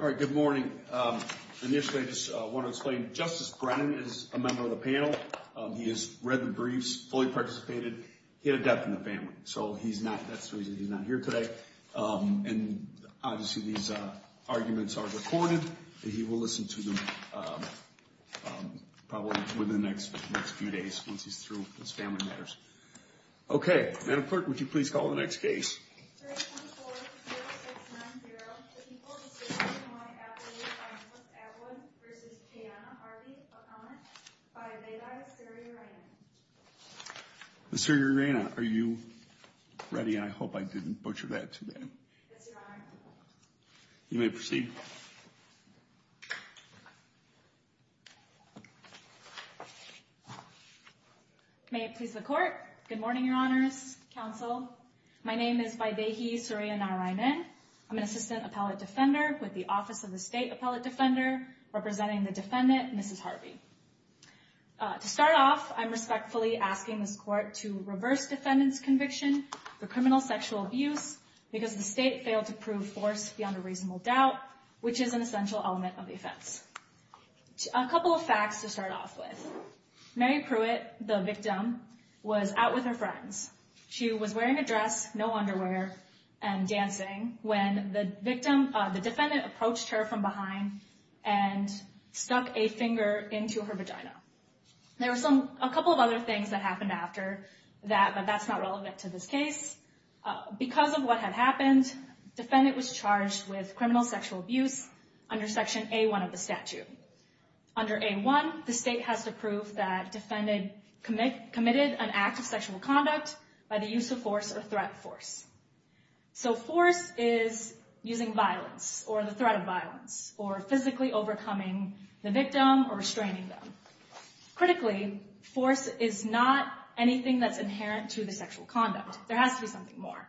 All right, good morning. Initially, I just want to explain, Justice Brennan is a member of the panel. He has read the briefs, fully participated. He had a death in the family. So that's the reason he's not here today. And obviously, these arguments are recorded. He will listen to them probably within the next few days, once he's through with his family matters. OK, Madam Clerk, would you please call the next case? 314-0690, the people of the city of Illinois at the youth violence at Wood v. Kiana Harvey O'Connor by Leda Asiri-Raina. Asiri-Raina, are you ready? I hope I didn't butcher that too bad. Yes, Your Honor. You may proceed. May it please the Court. Good morning, Your Honors, Counsel. My name is Vaibhavi Asiri-Raina. I'm an Assistant Appellate Defender with the Office of the State Appellate Defender, representing the defendant, Mrs. Harvey. To start off, I'm respectfully asking this court to reverse defendant's conviction for criminal sexual abuse, because the state failed to prove force beyond a reasonable doubt, which is an essential element of the offense. A couple of facts to start off with. Mary Pruitt, the victim, was out with her friends. She was wearing a dress, no underwear, and dancing when the defendant approached her from behind and stuck a finger into her vagina. There were a couple of other things that happened after that, but that's not relevant to this case. Because of what had happened, the defendant was charged with criminal sexual abuse under Section A1 of the statute. Under A1, the state has to prove that the defendant committed an act of sexual conduct by the use of force or threat force. So force is using violence, or the threat of violence, or physically overcoming the victim or restraining them. Critically, force is not anything that's inherent to the sexual conduct. There has to be something more.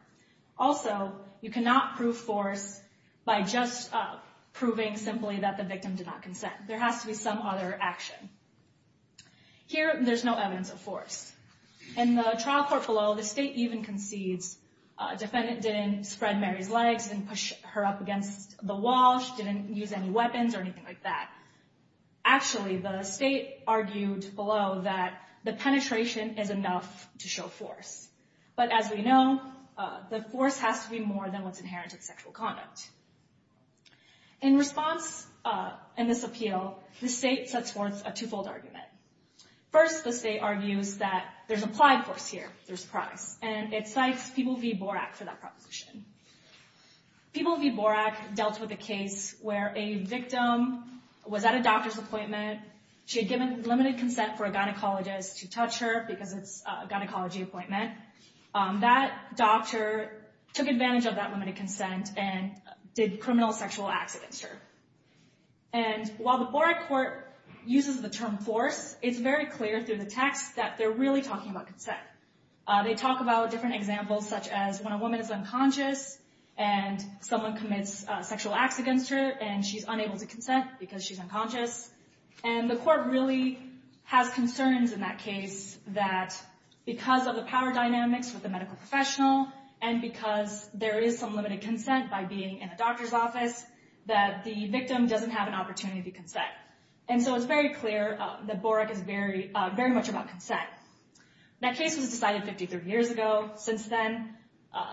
Also, you cannot prove force by just proving simply that the victim did not consent. There has to be some other action. Here, there's no evidence of force. In the trial court below, the state even concedes a defendant didn't spread Mary's legs and push her up against the wall, she didn't use any weapons or anything like that. Actually, the state argued below that the penetration is enough to show force. But as we know, the force has to be more than what's inherent to the sexual conduct. In response, in this appeal, the state sets forth a twofold argument. First, the state argues that there's applied force here, there's price, and it cites People v. Borak for that proposition. People v. Borak dealt with a case where a victim was at a doctor's appointment. She had given limited consent for a gynecologist to touch her because it's a gynecology appointment. That doctor took advantage of that limited consent and did criminal sexual acts against her. And while the Borak court uses the term force, it's very clear through the text that they're really talking about consent. They talk about different examples, such as when a woman is unconscious and someone commits sexual acts against her and she's unable to consent because she's unconscious. And the court really has concerns in that case that because of the power dynamics with the medical professional and because there is some limited consent by being in a doctor's office, that the victim doesn't have an opportunity to consent. And so it's very clear that Borak is very much about consent. That case was decided 53 years ago. Since then,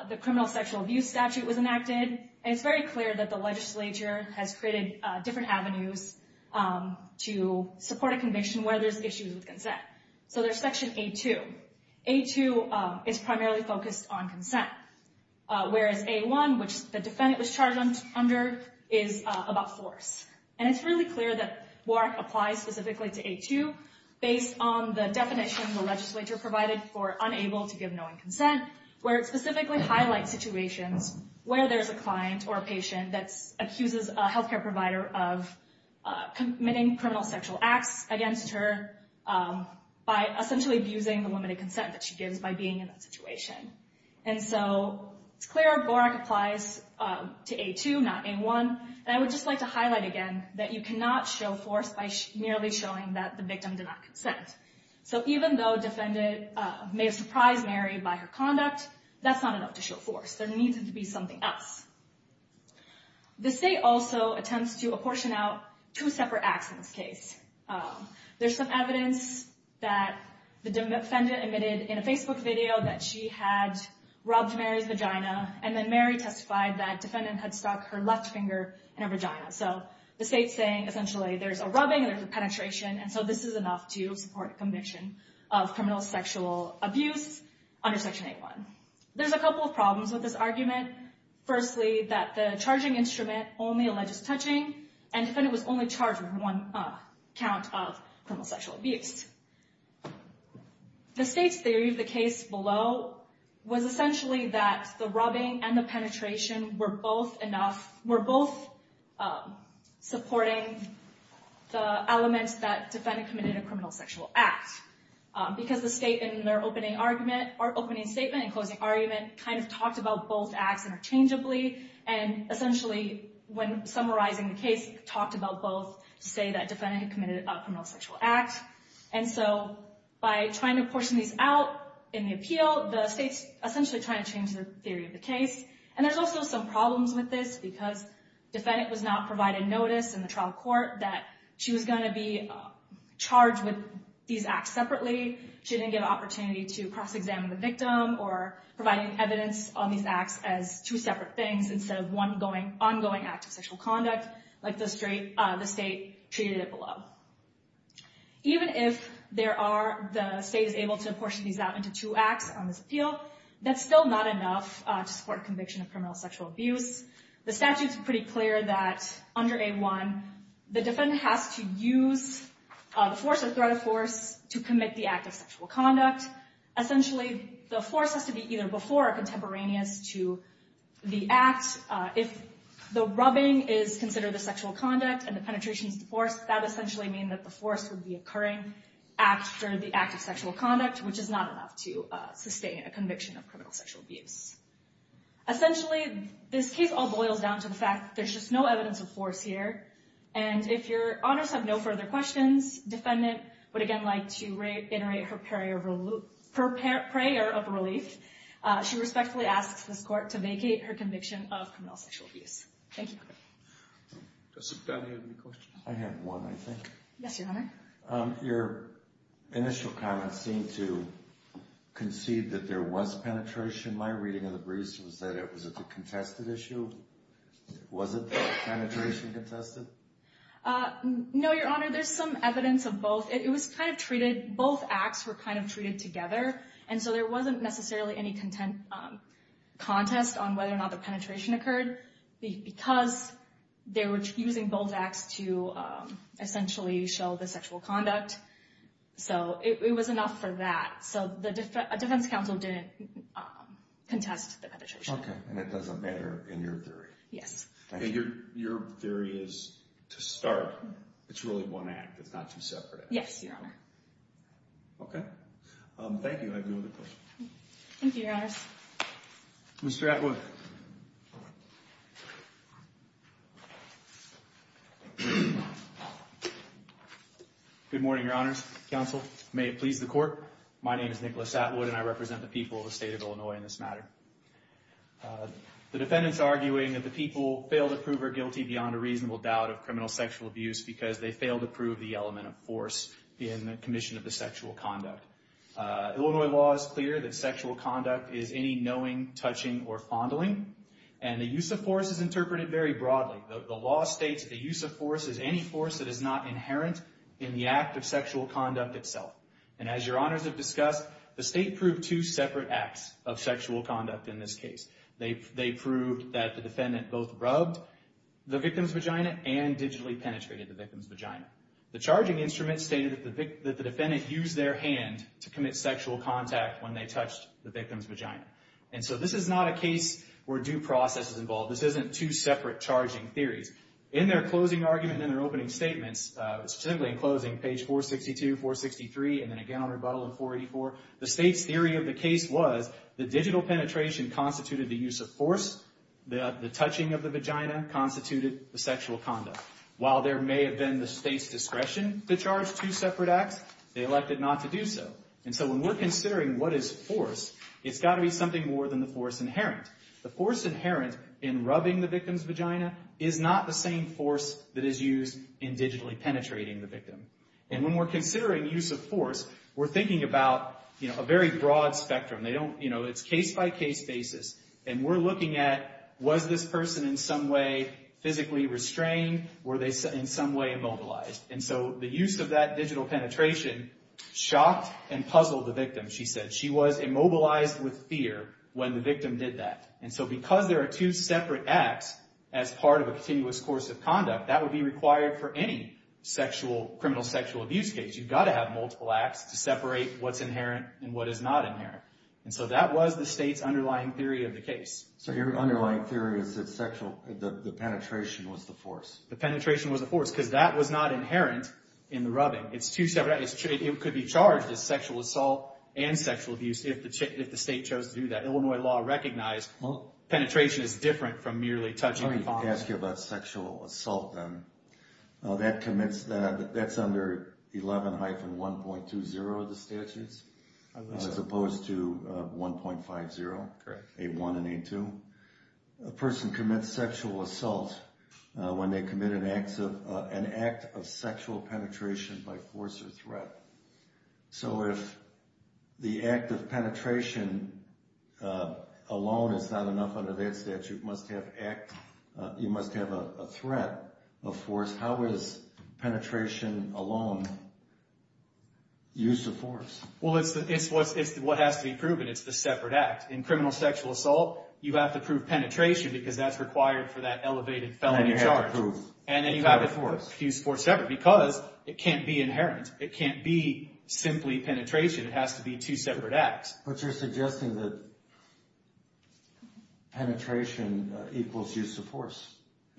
the criminal sexual abuse statute was enacted. And it's very clear that the legislature has created different avenues to support a conviction where there's issues with consent. So there's section A-2. A-2 is primarily focused on consent. Whereas A-1, which the defendant was charged under, is about force. And it's really clear that Borak applies specifically to A-2 based on the definition the legislature provided for unable to give knowing consent, where it specifically highlights situations where there's a client or a patient that accuses a healthcare provider of committing criminal sexual acts against her by essentially abusing the limited consent that she gives by being in that situation. And so it's clear Borak applies to A-2, not A-1. And I would just like to highlight again that you cannot show force by merely showing that the victim did not consent. So even though the defendant may have surprised Mary by her conduct, that's not enough to show force. There needs to be something else. The state also attempts to apportion out two separate acts in this case. There's some evidence that the defendant admitted in a Facebook video that she had rubbed Mary's vagina, and then Mary testified that defendant had stuck her left finger in her vagina. So the state's saying, essentially, there's a rubbing and there's a penetration, and so this is enough to support a conviction of criminal sexual abuse under Section A-1. There's a couple of problems with this argument. Firstly, that the charging instrument only alleges touching, and the defendant was only charged with one count of criminal sexual abuse. The state's theory of the case below was essentially that the rubbing and the penetration were both enough, were both supporting the elements that defendant committed a criminal sexual act. Because the state, in their opening argument, or opening statement and closing argument, kind of talked about both acts interchangeably, and essentially, when summarizing the case, talked about both to say that defendant had committed a criminal sexual act, and so by trying to portion these out in the appeal, the state's essentially trying to change the theory of the case. And there's also some problems with this, because defendant was not provided notice in the trial court that she was gonna be charged with these acts separately. She didn't get an opportunity to cross-examine the victim, or provide any evidence on these acts as two separate things, instead of one ongoing act of sexual conduct, like the state treated it below. Even if the state is able to portion these out into two acts on this appeal, that's still not enough to support conviction of criminal sexual abuse. The statute's pretty clear that, under A1, the defendant has to use the force or threat of force to commit the act of sexual conduct. Essentially, the force has to be either before or contemporaneous to the act. If the rubbing is considered the sexual conduct, and the penetration is the force, that essentially means that the force would be occurring after the act of sexual conduct, which is not enough to sustain a conviction of criminal sexual abuse. Essentially, this case all boils down to the fact that there's just no evidence of force here, and if your honors have no further questions, defendant would, again, like to reiterate her prayer of relief. She respectfully asks this court to vacate her conviction of criminal sexual abuse. Thank you. Does somebody have any questions? I have one, I think. Yes, your honor. Your initial comments seem to concede that there was penetration. My reading of the briefs was that it was a contested issue. Was it the penetration contested? No, your honor, there's some evidence of both. It was kind of treated, both acts were kind of treated together, and so there wasn't necessarily any contest on whether or not the penetration occurred, because they were using both acts to essentially show the sexual conduct, so it was enough for that. So a defense counsel didn't contest the penetration. Okay, and it doesn't matter in your theory. Yes. Your theory is to start, it's really one act, it's not two separate acts. Yes, your honor. Okay, thank you, I have no other questions. Thank you, your honors. Mr. Atwood. Good morning, your honors, counsel. May it please the court. My name is Nicholas Atwood, and I represent the people of the state of Illinois in this matter. The defendant's arguing that the people failed to prove her guilty beyond a reasonable doubt of criminal sexual abuse because they failed to prove the element of force in the commission of the sexual conduct. Illinois law is clear that sexual conduct is any knowing, touching, or fondling, and the use of force is interpreted very broadly. The law states that the use of force is any force that is not inherent in the act of sexual conduct itself. And as your honors have discussed, the state proved two separate acts of sexual conduct in this case. They proved that the defendant both rubbed the victim's vagina and digitally penetrated the victim's vagina. The charging instrument stated that the defendant used their hand to commit sexual contact when they touched the victim's vagina. And so this is not a case where due process is involved. This isn't two separate charging theories. In their closing argument and their opening statements, specifically in closing, page 462, 463, and then again on rebuttal in 484, the state's theory of the case was the digital penetration constituted the use of force, the touching of the vagina constituted the sexual conduct. While there may have been the state's discretion to charge two separate acts, they elected not to do so. And so when we're considering what is force, it's gotta be something more than the force inherent. The force inherent in rubbing the victim's vagina is not the same force that is used in digitally penetrating the victim. And when we're considering use of force, we're thinking about a very broad spectrum. It's case-by-case basis, and we're looking at was this person in some way physically restrained, were they in some way immobilized? And so the use of that digital penetration shocked and puzzled the victim, she said. She was immobilized with fear when the victim did that. And so because there are two separate acts as part of a continuous course of conduct, that would be required for any sexual, criminal sexual abuse case. You've gotta have multiple acts to separate what's inherent and what is not inherent. And so that was the state's underlying theory of the case. So your underlying theory is that sexual, the penetration was the force. The penetration was the force, because that was not inherent in the rubbing. It's two separate, it could be charged as sexual assault and sexual abuse if the state chose to do that. Illinois law recognized penetration is different from merely touching the body. Let me ask you about sexual assault then. That commits, that's under 11-1.20 of the statutes, as opposed to 1.50, A1 and A2. A person commits sexual assault when they commit an act of sexual penetration by force or threat. So if the act of penetration alone is not enough under that statute, must have act, you must have a threat of force. How is penetration alone used to force? Well, it's what has to be proven. It's the separate act. In criminal sexual assault, you have to prove penetration because that's required for that elevated felony charge. And you have to prove. And then you have to use force separate, because it can't be inherent. It can't be simply penetration. It has to be two separate acts. But you're suggesting that penetration equals use of force.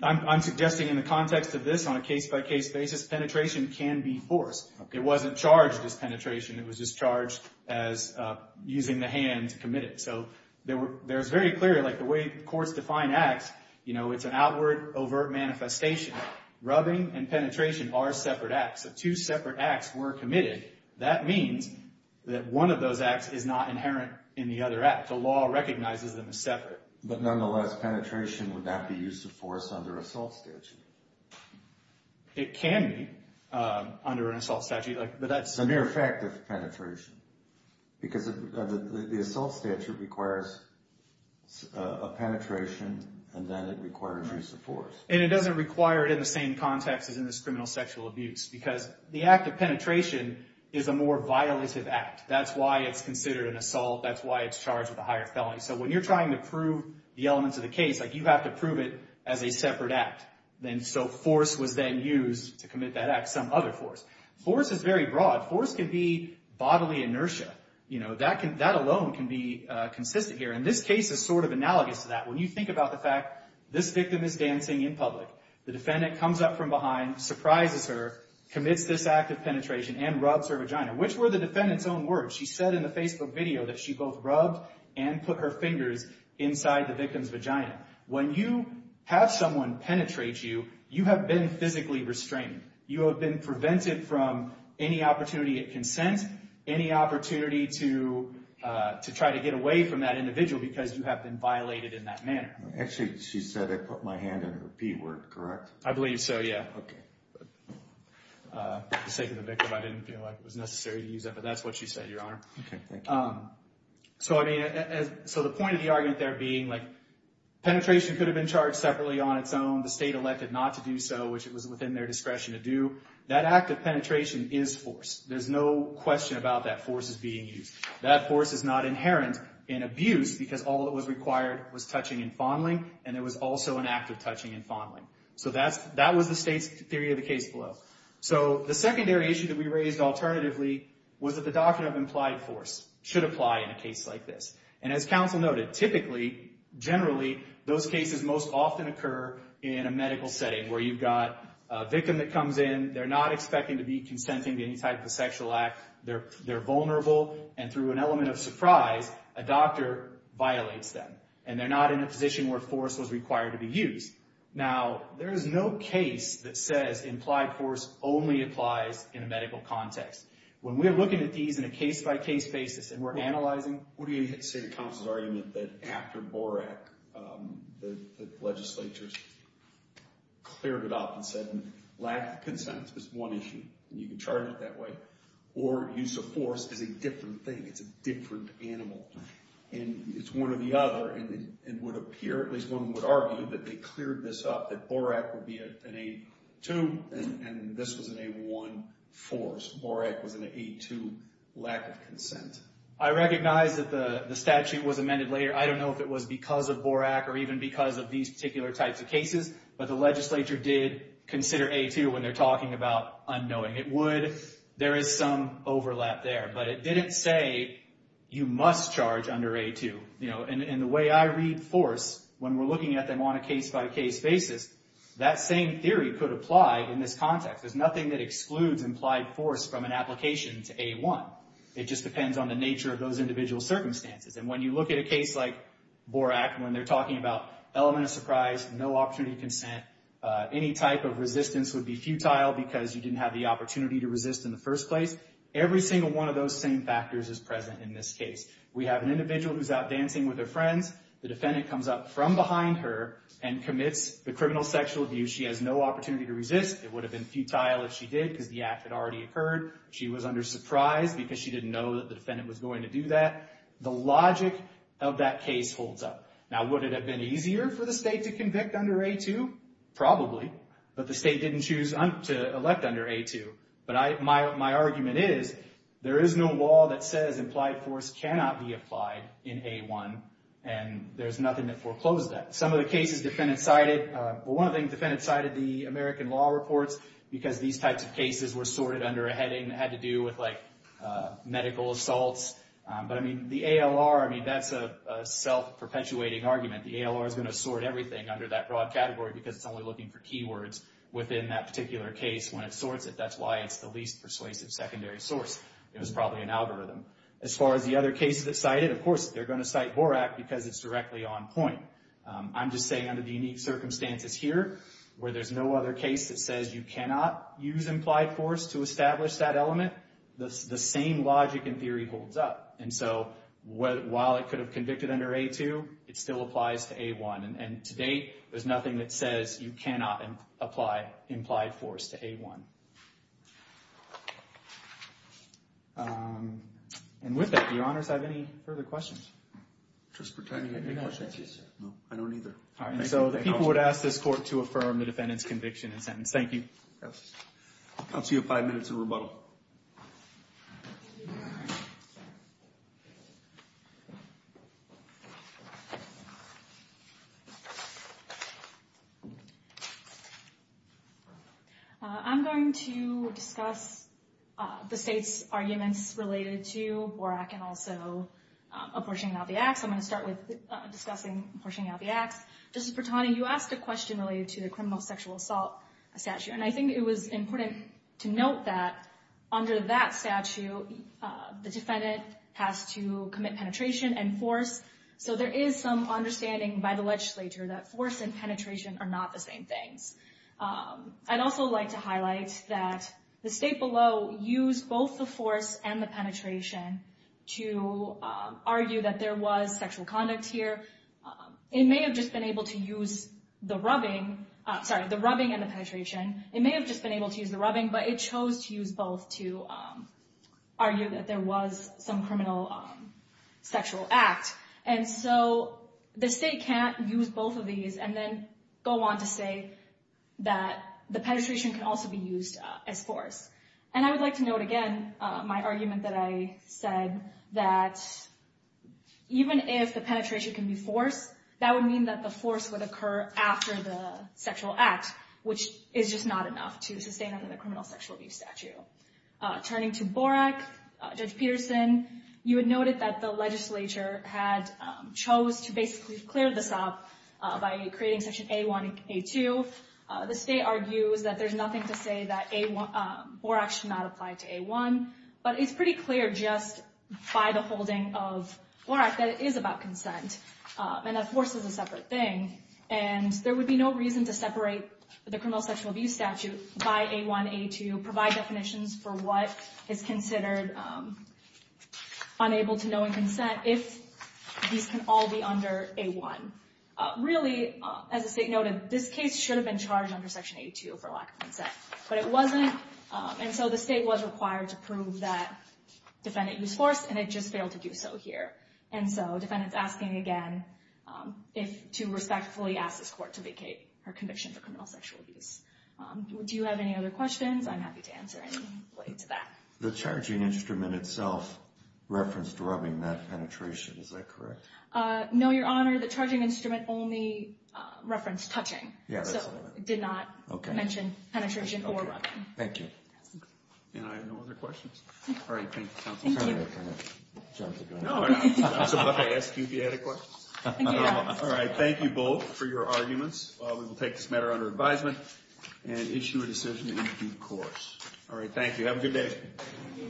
I'm suggesting in the context of this, on a case-by-case basis, penetration can be force. It wasn't charged as penetration. It was just charged as using the hand committed. So there's very clear, like the way courts define acts, you know, it's an outward, overt manifestation. Rubbing and penetration are separate acts. If two separate acts were committed, that means that one of those acts is not inherent in the other act. The law recognizes them as separate. But nonetheless, penetration would not be used to force under assault statute. It can be under an assault statute, but that's- The mere fact of penetration. Because the assault statute requires a penetration and then it requires use of force. And it doesn't require it in the same context as in this criminal sexual abuse, because the act of penetration is a more violative act. That's why it's considered an assault. That's why it's charged with a higher felony. So when you're trying to prove the elements of the case, like you have to prove it as a separate act. Then so force was then used to commit that act, some other force. Force is very broad. Force can be bodily inertia. You know, that alone can be consistent here. And this case is sort of analogous to that. When you think about the fact, this victim is dancing in public. The defendant comes up from behind, surprises her, commits this act of penetration and rubs her vagina. Which were the defendant's own words. She said in the Facebook video that she both rubbed and put her fingers inside the victim's vagina. When you have someone penetrate you, you have been physically restrained. You have been prevented from any opportunity at consent, any opportunity to try to get away from that individual because you have been violated in that manner. Actually, she said I put my hand in her P word, correct? I believe so, yeah. Okay. For the sake of the victim, I didn't feel like it was necessary to use it, but that's what she said, Your Honor. Okay, thank you. So I mean, so the point of the argument there being like, penetration could have been charged separately on its own. The state elected not to do so, which it was within their discretion to do. That act of penetration is force. There's no question about that force is being used. That force is not inherent in abuse because all that was required was touching and fondling, and there was also an act of touching and fondling. So that was the state's theory of the case below. So the secondary issue that we raised alternatively was that the doctrine of implied force should apply in a case like this. And as counsel noted, typically, generally, those cases most often occur in a medical setting where you've got a victim that comes in, they're not expecting to be consenting to any type of sexual act, they're vulnerable, and through an element of surprise, a doctor violates them. And they're not in a position where force was required to be used. Now, there is no case that says implied force only applies in a medical context. When we're looking at these in a case-by-case basis, and we're analyzing... What do you say to counsel's argument that after Borak, the legislature's cleared it up and said, lack of consent is one issue. You can charge it that way. Or use of force is a different thing. It's a different animal. And it's one or the other, and it would appear, at least one would argue, that they cleared this up, that Borak would be an A2, and this was an A1 force. Borak was an A2 lack of consent. I recognize that the statute was amended later. I don't know if it was because of Borak or even because of these particular types of cases, but the legislature did consider A2 when they're talking about unknowing. It would, there is some overlap there. But it didn't say you must charge under A2. And the way I read force, when we're looking at them on a case-by-case basis, that same theory could apply in this context. There's nothing that excludes implied force from an application to A1. It just depends on the nature of those individual circumstances. And when you look at a case like Borak, when they're talking about element of surprise, no opportunity to consent, any type of resistance would be futile because you didn't have the opportunity to resist in the first place. Every single one of those same factors is present in this case. We have an individual who's out dancing with her friends. The defendant comes up from behind her and commits the criminal sexual abuse. She has no opportunity to resist. It would have been futile if she did because the act had already occurred. She was under surprise because she didn't know that the defendant was going to do that. The logic of that case holds up. Now, would it have been easier for the state to convict under A2? Probably, but the state didn't choose to elect under A2. But my argument is there is no law that says implied force cannot be applied in A1 and there's nothing that foreclosed that. Some of the cases defendants cited, well, one of the things defendants cited, the American Law Reports, because these types of cases were sorted under a heading that had to do with medical assaults. But the ALR, that's a self-perpetuating argument. The ALR is going to sort everything under that broad category because it's only looking for keywords within that particular case when it sorts it. That's why it's the least persuasive secondary source. It was probably an algorithm. As far as the other cases that cited, of course, they're going to cite Borak because it's directly on point. I'm just saying under the unique circumstances here where there's no other case that says you cannot use implied force to establish that element, the same logic and theory holds up. And so while it could have convicted under A2, it still applies to A1. And to date, there's nothing that says you cannot apply implied force to A1. And with that, do your honors have any further questions? Just pretending I have any questions. No, I don't either. All right, so the people would ask this court to affirm the defendant's conviction and sentence. Thank you. Yes, I'll count you five minutes of rebuttal. Thank you. I'm going to discuss the state's arguments related to Borak and also pushing out the acts. I'm gonna start with discussing pushing out the acts. Justice Pertani, you asked a question related to the criminal sexual assault statute. And I think it was important to note that under that statute, the defendant has to commit penetration and force. So there is some understanding by the legislature that force and penetration are not the same things. I'd also like to highlight that the state below used both the force and the penetration to argue that there was sexual conduct here. It may have just been able to use the rubbing, sorry, the rubbing and the penetration. It may have just been able to use the rubbing, but it chose to use both to argue that there was some criminal sexual act. And so the state can't use both of these and then go on to say that the penetration can also be used as force. And I would like to note again my argument that I said that even if the penetration can be forced, that would mean that the force would occur after the sexual act, which is just not enough to sustain under the criminal sexual abuse statute. Turning to Borak, Judge Peterson, you had noted that the legislature had chose to basically clear this up by creating section A1 and A2. The state argues that there's nothing to say that Borak should not apply to A1, but it's pretty clear just by the holding of Borak that it is about consent and that force is a separate thing. And there would be no reason to separate the criminal sexual abuse statute by A1, A2, provide definitions for what is considered unable to know in consent if these can all be under A1. Really, as the state noted, this case should have been charged under section A2 for lack of consent, but it wasn't. And so the state was required to prove that defendant used force and it just failed to do so here. And so defendants asking again to respectfully ask this court to vacate her conviction for criminal sexual abuse. Do you have any other questions? I'm happy to answer any related to that. The charging instrument itself referenced rubbing, not penetration. Is that correct? No, Your Honor, the charging instrument only referenced touching. Yeah, that's what I meant. So it did not mention penetration or rubbing. Thank you. And I have no other questions. All right, thank you, counsel. Thank you. Judge, you're doing it. No, no, I was about to ask you if you had a question. Thank you, Your Honor. All right, thank you both for your arguments. We will take this matter under advisement and issue a decision in due course. All right, thank you. Have a good day.